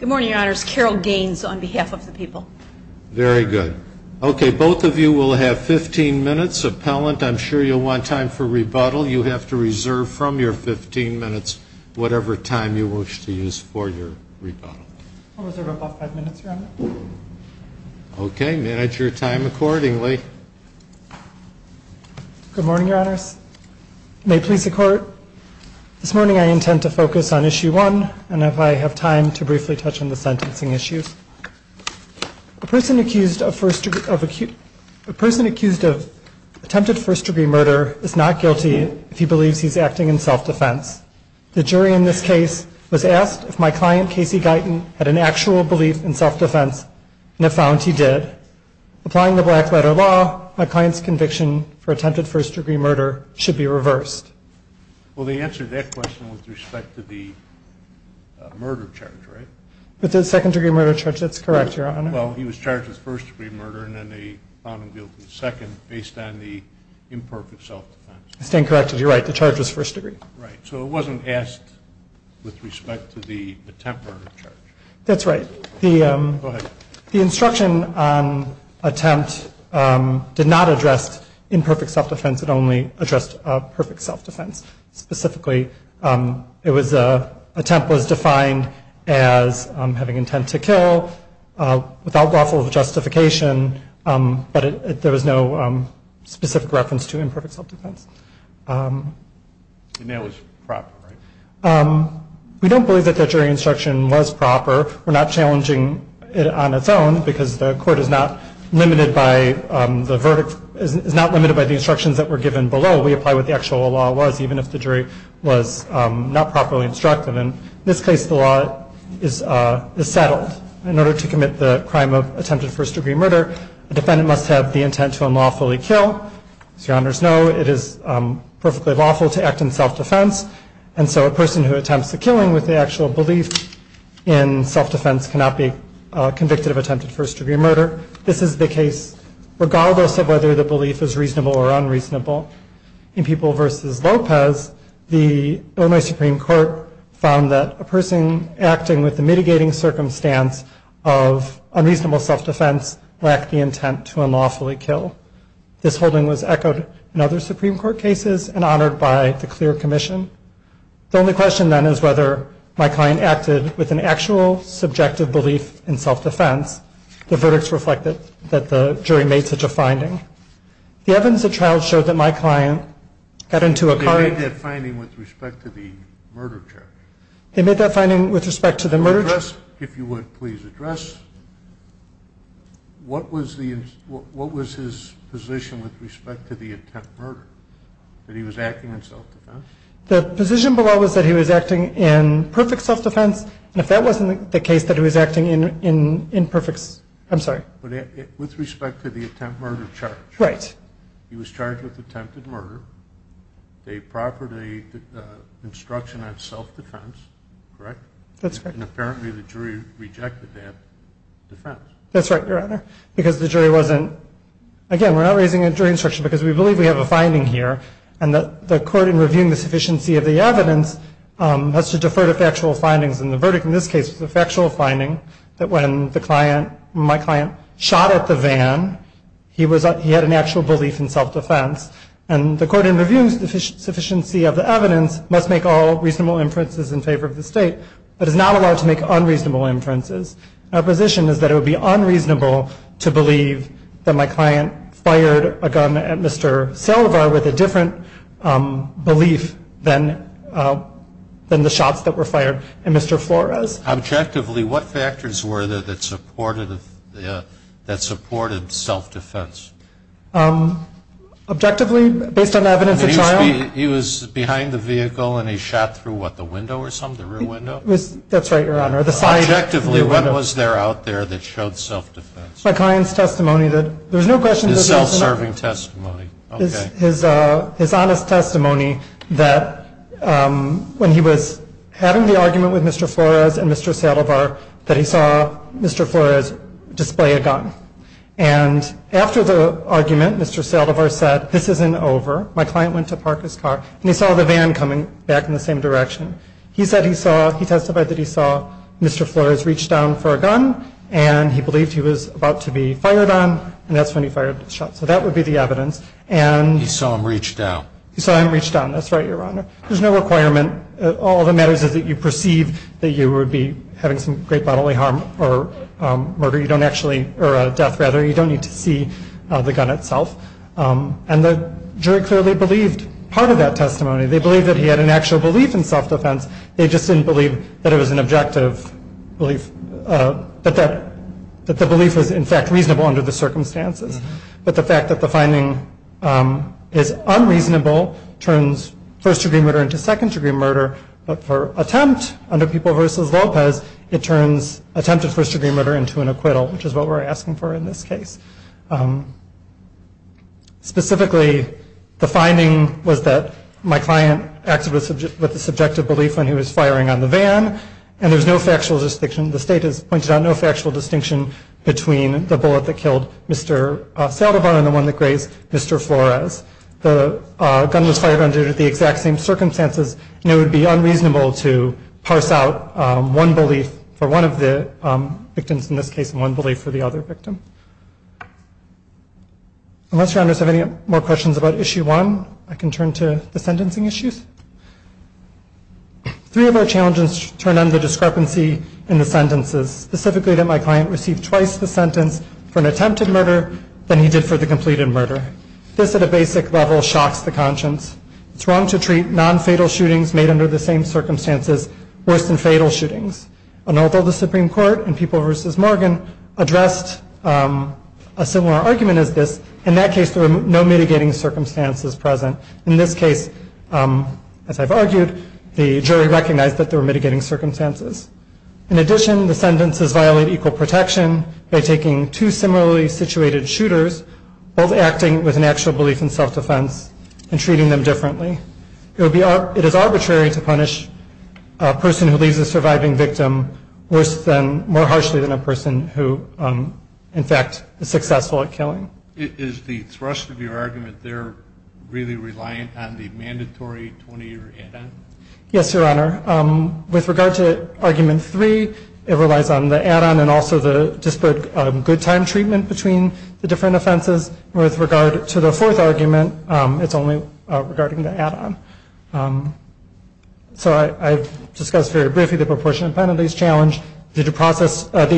Good morning, your honors. Carol Gaines on behalf of the people. Very good. Okay, both of you will have 15 minutes. Appellant, I'm sure you'll want time for rebuttal. You have to reserve from your 15 minutes whatever time you wish to use for your rebuttal. I'll reserve about five minutes, your honor. Okay, manage your time accordingly. Good morning, your honors. May it please the court, this morning I intend to focus on issue one and if I have time to briefly touch on the sentencing issues. A person accused of attempted first-degree murder is not guilty if he believes he's acting in self-defense. The jury in this case was asked if my client, Casey Guyton, had an actual belief in self-defense and they found he did. Applying the black letter law, my client's conviction for attempted first-degree murder should be reversed. Well, they answered that question with respect to the murder charge, right? With the second-degree murder charge, that's correct, your honor. Well, he was charged with first-degree murder and then they found him guilty second based on the imperfect self-defense. I stand corrected. You're right. The charge was first-degree. Right. So it wasn't asked with respect to the attempt murder charge. That's right. The instruction on attempt did not address imperfect self-defense. It only addressed perfect self-defense. Specifically, it was a attempt was defined as having intent to kill without lawful justification, but there was no specific reference to imperfect self-defense. The nail was proper, right? We don't believe that the jury instruction was proper. We're not challenging it on its own because the court is not limited by the instructions that were given below. We apply what the actual law was, even if the jury was not properly instructed. In this case, the law is settled. In order to commit the crime of attempted first-degree murder, the defendant must have the intent to unlawfully kill. As your honors know, it is perfectly lawful to act in self-defense, and so a person who attempts the killing with the actual belief in self-defense cannot be convicted of attempted first-degree murder. This is the case regardless of whether the belief is reasonable or unreasonable. In People v. Lopez, the Illinois Supreme Court found that a person acting with the mitigating circumstance of unreasonable self-defense lacked the intent to unlawfully kill. This holding was echoed in other Supreme Court cases and honored by the clear commission. The only question then is whether my client acted with an actual subjective belief in self-defense. The verdicts reflected that the jury made such a finding. The evidence of trial showed that my client got into a car. They made that finding with respect to the murder charge. They made that finding with respect to the murder charge. If you would please address, what was his position with respect to the attempted murder, that he was acting in self-defense? The position below was that he was acting in perfect self-defense, and if that wasn't the case, that he was acting in perfect, I'm sorry. With respect to the attempt murder charge, he was charged with attempted murder. They proffered an instruction on self-defense, correct? That's correct. And apparently the jury rejected that defense. That's right, Your Honor, because the jury wasn't, again, we're not raising a jury instruction because we believe we have a finding here, and the court in reviewing the sufficiency of the evidence has to defer to factual findings, and the verdict in this case was a factual finding that when my client shot at the van, he had an actual belief in self-defense, and the court in reviewing the sufficiency of the evidence must make all reasonable inferences in favor of the state, but is not allowed to make unreasonable inferences. Our position is that it would be unreasonable to believe that my client fired a gun at Mr. Silva with a different belief than the shots that were fired at Mr. Flores. Objectively, what factors were there that supported self-defense? Objectively, based on evidence at trial? He was behind the vehicle and he shot through what, the window or something, the rear window? That's right, Your Honor. Objectively, what was there out there that showed self-defense? My client's testimony that there's no question that there's no... His self-serving testimony, okay. His honest testimony that when he was having the argument with Mr. Flores and Mr. Salovar, that he saw Mr. Flores display a gun, and after the argument, Mr. Salovar said, this isn't over. My client went to park his car, and he saw the van coming back in the same direction. He said he saw, he testified that he saw Mr. Flores reach down for a gun, and he believed he was about to be fired on, and that's when he fired the shot, so that would be the evidence. He saw him reach down. He saw him reach down, that's right, Your Honor. There's no requirement, all that matters is that you perceive that you would be having some great bodily harm or murder, you don't actually, or death rather, you don't need to see the gun itself, and the jury clearly believed part of that testimony. They believed that he had an actual belief in self-defense, they just didn't believe that it was an objective belief, that the belief was in fact reasonable under the circumstances. But the fact that the finding is unreasonable turns first-degree murder into second-degree murder, but for attempt under People v. Lopez, it turns attempted first-degree murder into an acquittal, which is what we're asking for in this case. Specifically, the finding was that my client acted with a subjective belief when he was firing on the van, and there was no factual distinction, the state has pointed out no factual distinction between the bullet that killed Mr. Saldivar and the one that grazed Mr. Flores. The gun was fired under the exact same circumstances, and it would be unreasonable to parse out one belief for one of the victims in this case, and one belief for the other victim. Unless Your Honors have any more questions about Issue 1, I can turn to the sentencing issues. Three of our challenges turn on the discrepancy in the sentences, specifically that my client received twice the sentence for an attempted murder than he did for the completed murder. This, at a basic level, shocks the conscience. It's wrong to treat non-fatal shootings made under the same circumstances worse than fatal shootings. And although the Supreme Court in People v. Morgan addressed a similar argument as this, in that case there were no mitigating circumstances present. In this case, as I've argued, the jury recognized that there were mitigating circumstances. In addition, the sentences violate equal protection by taking two similarly situated shooters, both acting with an actual belief in self-defense and treating them differently. It is arbitrary to punish a person who leaves a surviving victim worse than, more harshly than a person who, in fact, is successful at killing. Is the thrust of your argument there really reliant on the mandatory 20-year add-on? Yes, Your Honor. With regard to Argument 3, it relies on the add-on and also the disparate good time treatment between the different offenses. With regard to the fourth argument, it's only regarding the add-on. So I've discussed very briefly the proportionate penalties challenge, the due process, the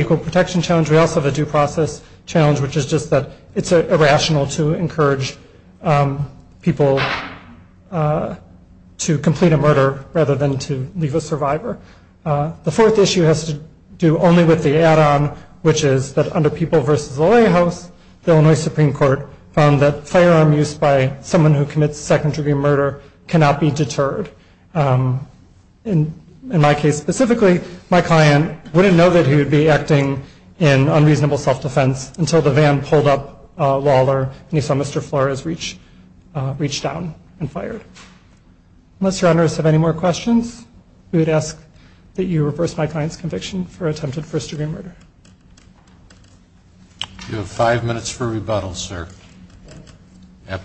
It's irrational to encourage people to complete a murder rather than to leave a survivor. The fourth issue has to do only with the add-on, which is that under People v. the Lawyer House, the Illinois Supreme Court found that firearm use by someone who commits second-degree murder cannot be deterred. In my case specifically, my client wouldn't know that he would be acting in unreasonable self-defense until the van pulled up a wall or he saw Mr. Flores reach down and fired. Unless Your Honors have any more questions, we would ask that you reverse my client's conviction for attempted first-degree murder. You have five minutes for rebuttal, sir. Good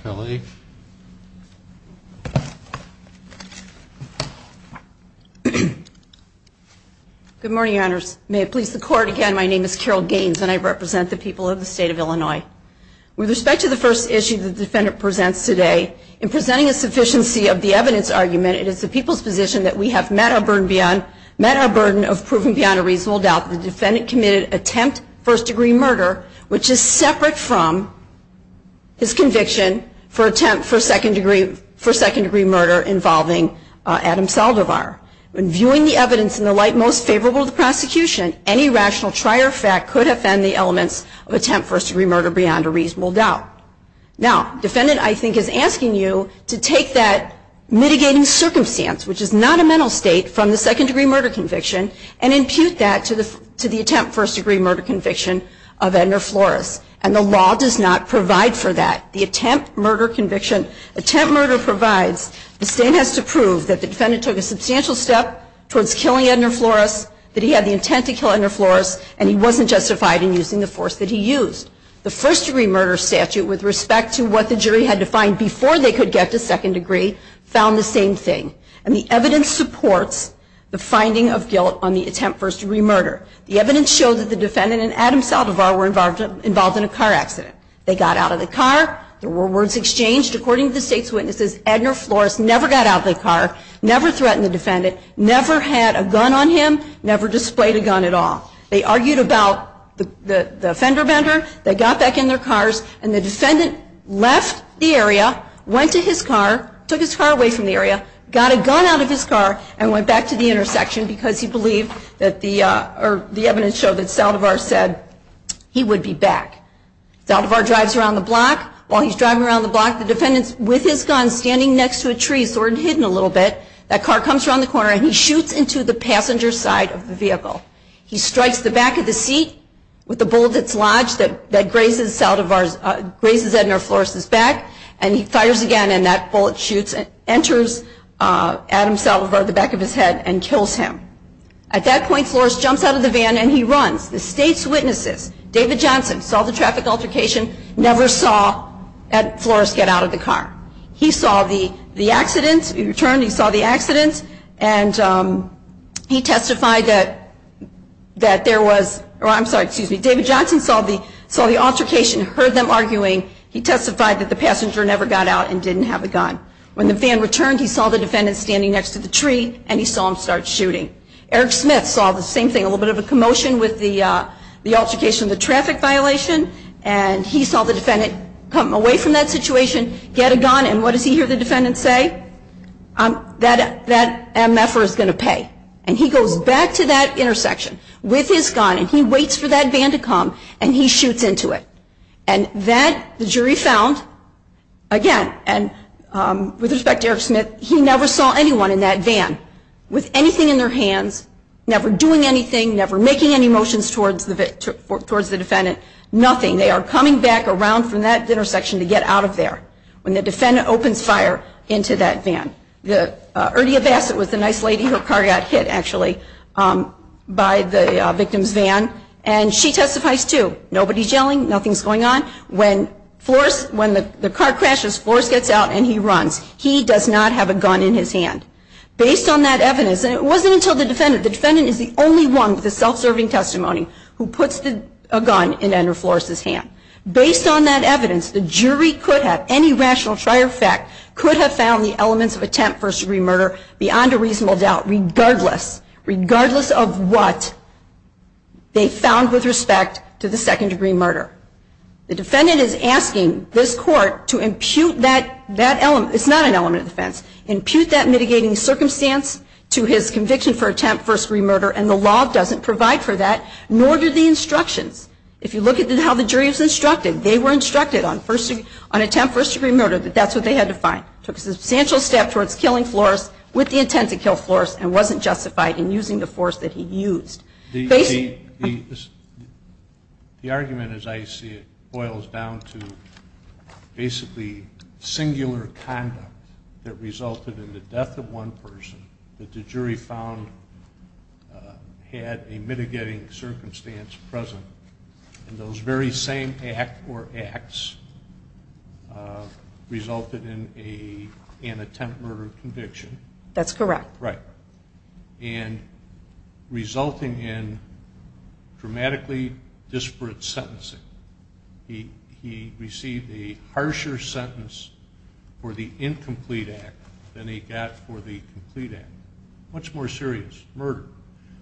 morning, Your Honors. May it please the Court, again, my name is Carol Gaines and I represent the people of the state of Illinois. With respect to the first issue the defendant presents today, in presenting a sufficiency of the evidence argument, it is the people's position that we have met our burden of proving beyond a reasonable doubt that the defendant committed attempt first-degree murder, which is separate from his conviction for attempt for second-degree murder involving Adam Saldivar. When viewing the evidence in the light most favorable to the prosecution, any rational trier fact could offend the elements of attempt first-degree murder beyond a reasonable doubt. Now defendant, I think, is asking you to take that mitigating circumstance, which is not a mental state, from the second-degree murder conviction and impute that to the attempt first-degree murder conviction of Edna Flores. And the law does not provide for that. The attempt murder conviction, attempt murder provides, the state has to prove that the defendant took the initial step towards killing Edna Flores, that he had the intent to kill Edna Flores, and he wasn't justified in using the force that he used. The first-degree murder statute, with respect to what the jury had to find before they could get to second-degree, found the same thing. And the evidence supports the finding of guilt on the attempt first-degree murder. The evidence showed that the defendant and Adam Saldivar were involved in a car accident. They got out of the car. There were words exchanged. According to the State's witnesses, Edna Flores never got out of the car, never threatened the defendant, never had a gun on him, never displayed a gun at all. They argued about the fender bender. They got back in their cars, and the defendant left the area, went to his car, took his car away from the area, got a gun out of his car, and went back to the intersection because he believed that the evidence showed that Saldivar said he would be back. Saldivar drives around the block. While he's driving around the block, the defendant's with his gun standing next to a tree, sort of hidden a little bit. That car comes around the corner, and he shoots into the passenger side of the vehicle. He strikes the back of the seat with the bullet that's lodged that grazes Saldivar's, grazes Edna Flores' back, and he fires again, and that bullet shoots, enters Adam Saldivar at the back of his head, and kills him. At that point, Flores jumps out of the van, and he runs. The State's witnesses, David Johnson, saw the traffic altercation, never saw Edna Flores get out of the car. He saw the accidents, he returned, he saw the accidents, and he testified that there was, or I'm sorry, excuse me, David Johnson saw the altercation, heard them arguing, he testified that the passenger never got out and didn't have a gun. When the van returned, he saw the defendant standing next to the tree, and he saw him start shooting. Eric Smith saw the same thing, a little bit of a commotion with the altercation, the traffic violation, and he saw the defendant come away from that situation, get a gun, and what does he hear the defendant say? That MF-er is going to pay. And he goes back to that intersection with his gun, and he waits for that van to come, and he shoots into it. And that, the jury found, again, and with respect to Eric Smith, he never saw anyone in that van with anything in their hands, never doing anything, never making any motions towards the defendant, nothing. They are coming back around from that intersection to get out of there when the defendant opens fire into that van. The, Erdia Bassett was the nice lady, her car got hit, actually, by the victim's van, and she testifies, too. Nobody's yelling, nothing's going on. When Flores, when the car crashes, Flores gets out and he runs. He does not have a gun in his hand. Based on that evidence, and it wasn't until the defendant, the defendant is the only one with a self-serving testimony who puts a gun in Andrew Flores' hand. Based on that evidence, the jury could have, any rational trier fact, could have found the elements of attempt first-degree murder beyond a reasonable doubt, regardless, regardless of what they found with respect to the second-degree murder. The defendant is asking this Court to impute that element, it's not an element of defense, impute that mitigating circumstance to his conviction for attempt first-degree murder, and the law doesn't provide for that, nor do the instructions. If you look at how the jury was instructed, they were instructed on first-degree, on attempt first-degree murder, that that's what they had to find. Took a substantial step towards killing Flores, with the intent to kill Flores, and wasn't justified in using the force that he used. The argument, as I see it, boils down to basically singular conduct that resulted in the death of one person, that the jury found had a mitigating circumstance present, and those very same act or acts resulted in an attempt murder conviction. That's correct. Right. And resulting in dramatically disparate sentencing, he received a harsher sentence for the incomplete act than he got for the complete act. Much more serious, murder.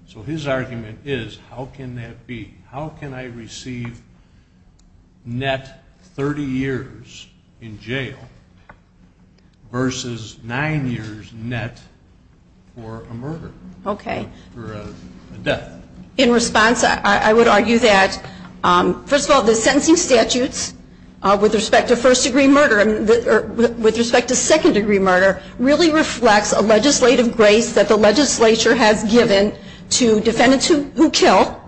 So his argument is, how can that be? How can I receive net 30 years in jail, versus 9 years net for a murder, or a death? In response, I would argue that, first of all, the sentencing statutes with respect to first-degree murder, with respect to second-degree murder, really reflects a legislative grace that the legislature has given to defendants who kill,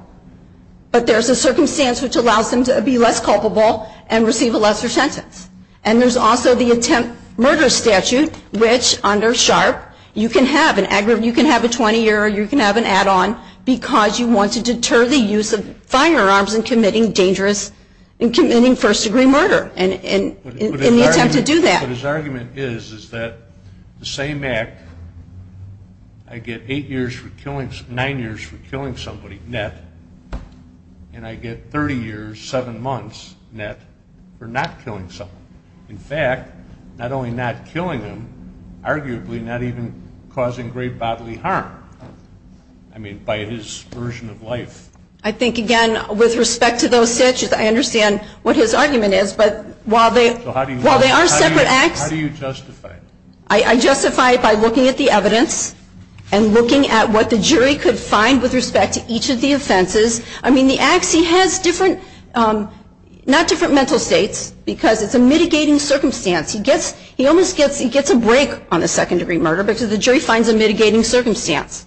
but there's a circumstance which allows them to be less culpable and receive a lesser sentence. And there's also the attempt murder statute, which under SHARP, you can have a 20-year, you can have an add-on, because you want to deter the use of firearms in committing dangerous first-degree murder in the attempt to do that. But his argument is, is that the same act, I get 8 years for killing, 9 years for killing somebody, net, and I get 30 years, 7 months, net, for not killing somebody. In fact, not only not killing them, arguably not even causing great bodily harm, I mean, by his version of life. I think, again, with respect to those statutes, I understand what his argument is, but while they are separate acts, I justify it by looking at the evidence, and looking at what the jury could find with respect to each of the offenses, I mean, the acts, he has different, not different mental states, because it's a mitigating circumstance, he gets, he almost gets, he gets a break on a second-degree murder because the jury finds a mitigating circumstance.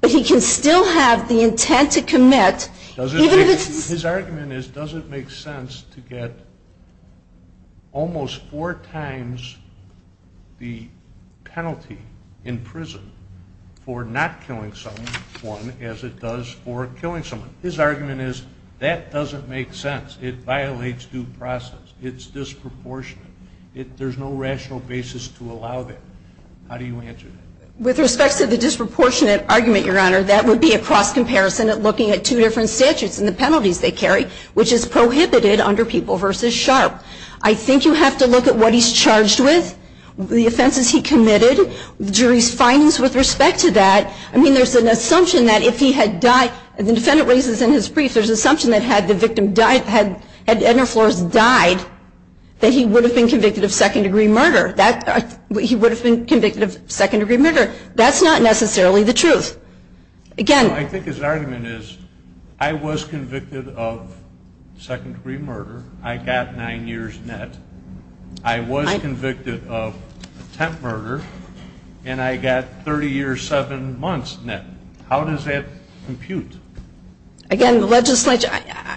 But he can still have the intent to commit, even if it's... His argument is, does it make sense to get almost four times the penalty in prison for not killing someone as it does for killing someone. His argument is, that doesn't make sense. It violates due process. It's disproportionate. There's no rational basis to allow that. How do you answer that? With respect to the disproportionate argument, Your Honor, that would be a cross-comparison at looking at two different statutes and the penalties they carry, which is prohibited under People v. Sharp. I think you have to look at what he's charged with, the offenses he committed, the jury's findings with respect to that. I mean, there's an assumption that if he had died, the defendant raises in his brief, there's an assumption that had the victim died, had Edna Flores died, that he would have been convicted of second-degree murder. That's not necessarily the truth. Again... I think his argument is, I was convicted of second-degree murder. I got nine years net. I was convicted of attempt murder, and I got 30 years, seven months net. How does that compute? Again, the legislature...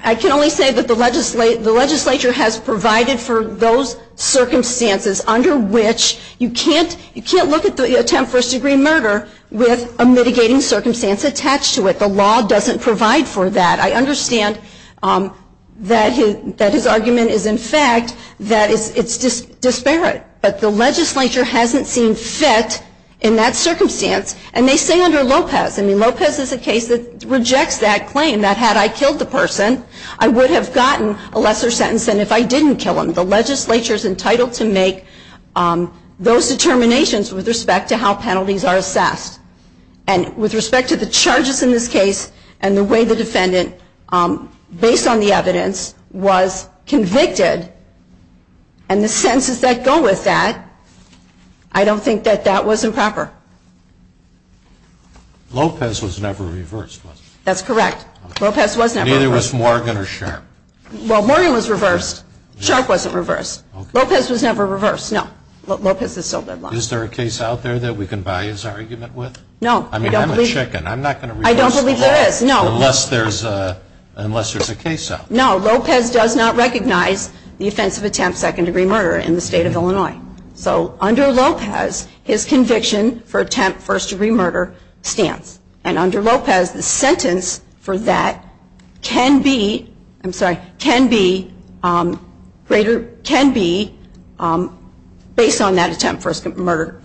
I can only say that the legislature has provided for those circumstances under which you can't look at the attempt first-degree murder with a mitigating circumstance attached to it. The law doesn't provide for that. I understand that his argument is in fact that it's disparate, but the legislature hasn't seen fit in that circumstance, and they say under Lopez. I mean, Lopez is a case that rejects that claim, that had I killed the person, I would have gotten a lesser sentence than if I didn't kill him. The legislature is entitled to make those determinations with respect to how penalties are assessed. And with respect to the charges in this case, and the way the defendant, based on the evidence, was convicted, and the sentences that go with that, I don't think that that was improper. Lopez was never reversed, was he? That's correct. Lopez was never reversed. And neither was Morgan or Sharp. Well, Morgan was reversed. Sharp wasn't reversed. Lopez was never reversed. No. Lopez is still deadlocked. Is there a case out there that we can bias our argument with? No. I mean, I'm a chicken. I'm not going to reverse the case unless there's a case out there. No. Lopez does not recognize the offense of attempt second-degree murder in the state of Illinois. So under Lopez, his conviction for attempt first-degree murder stands. And under Lopez, the sentence for that can be, I'm sorry, can be greater, can be based on that attempt first-degree murder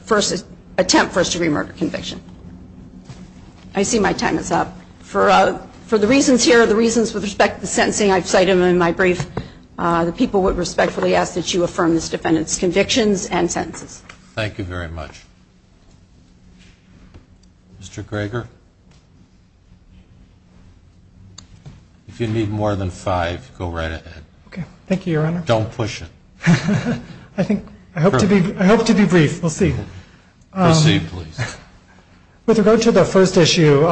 conviction. I see my time is up. For the reasons here, the reasons with respect to the sentencing I've cited in my brief, the people would respectfully ask that you affirm this defendant's convictions and sentences. Thank you very much. Mr. Greger? If you need more than five, go right ahead. Okay. Thank you, Your Honor. Don't push it. I think, I hope to be brief. We'll see. Proceed, please. With regard to the first issue,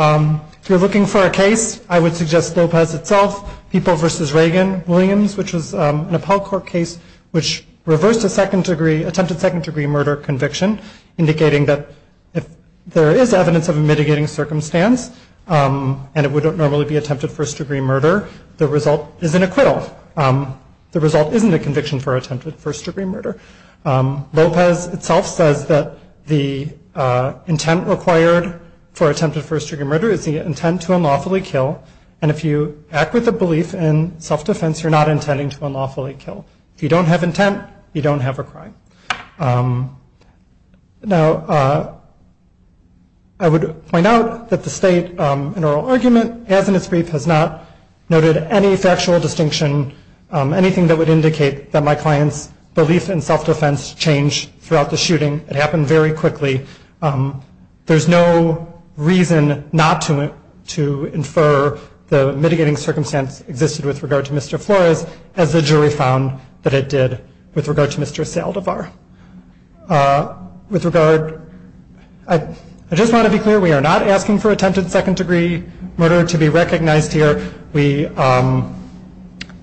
if you're looking for a case, I would suggest Lopez itself, People v. Reagan, Williams, which was an appellate court case which reversed attempted second-degree murder conviction, indicating that if there is evidence of a mitigating circumstance and it would not normally be attempted first-degree murder, the result is an acquittal. The result isn't a conviction for attempted first-degree murder. Lopez itself says that the intent required for attempted first-degree murder is the intent to unlawfully kill. And if you act with a belief in self-defense, you're not intending to unlawfully kill. If you don't have intent, you don't have a crime. Now, I would point out that the state in oral argument, as in its brief, has not noted any factual distinction, anything that would indicate that my client's belief in self-defense changed throughout the shooting. It happened very quickly. There's no reason not to infer the fact that it did with regard to Mr. Saldivar. With regard, I just want to be clear, we are not asking for attempted second-degree murder to be recognized here. We,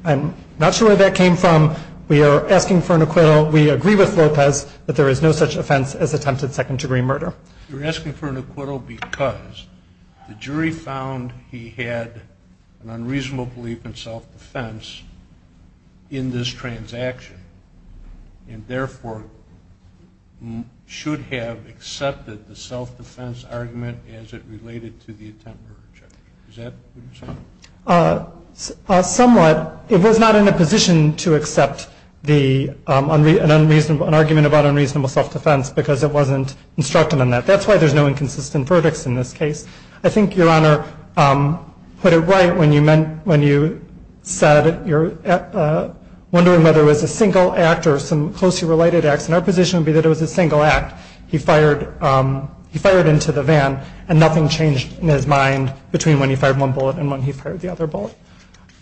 I'm not sure where that came from. We are asking for an acquittal. We agree with Lopez that there is no such offense as attempted second-degree murder. You're asking for an acquittal because the jury found he had an unreasonable belief in self-defense in this transaction, and therefore should have accepted the self-defense argument as it related to the attempt murder charge. Is that what you're saying? Somewhat. It was not in a position to accept the unreasonable, an argument about unreasonable self-defense because it wasn't instructed in that. That's why there's no inconsistent verdicts in this case. I think Your Honor put it right when you said you're wondering whether it was a single act or some closely related acts. And our position would be that it was a single act. He fired into the van, and nothing changed in his mind between when he fired one bullet and when he fired the other bullet.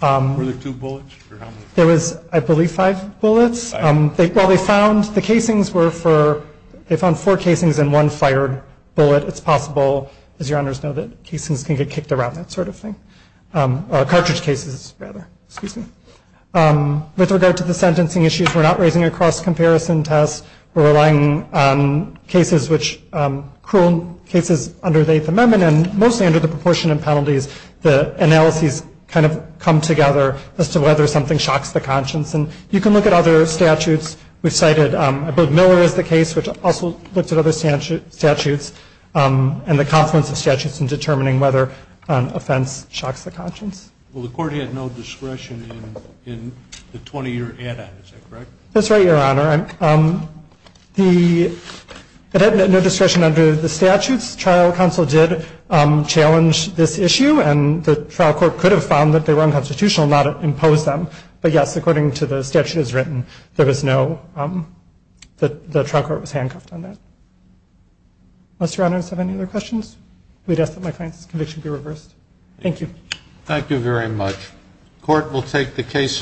Were there two bullets, or how many? There was, I believe, five bullets. While they found, the casings were for, they found four casings and one fired bullet. It's possible, as Your Honors know, that casings can get kicked around, that sort of thing. Or cartridge cases, rather. Excuse me. With regard to the sentencing issues, we're not raising a cross-comparison test. We're relying on cases which, cruel cases under the Eighth Amendment, and mostly under the proportionate penalties, the analyses kind of come together as to whether something shocks the conscience. And you can look at other statutes. We've cited, I believe, Miller is the case, which also looked at other statutes, and the confluence of statutes in determining whether an offense shocks the conscience. Well, the court had no discretion in the 20-year add-on, is that correct? That's right, Your Honor. It had no discretion under the statutes. Trial counsel did challenge this issue, and the trial court could have found that they were unconstitutional and had to impose them. But yes, according to the statutes written, there was no, the trial court was handcuffed on that. Does Your Honors have any other questions? We'd ask that my client's conviction be reversed. Thank you. Thank you very much. Court will take the case under advisement.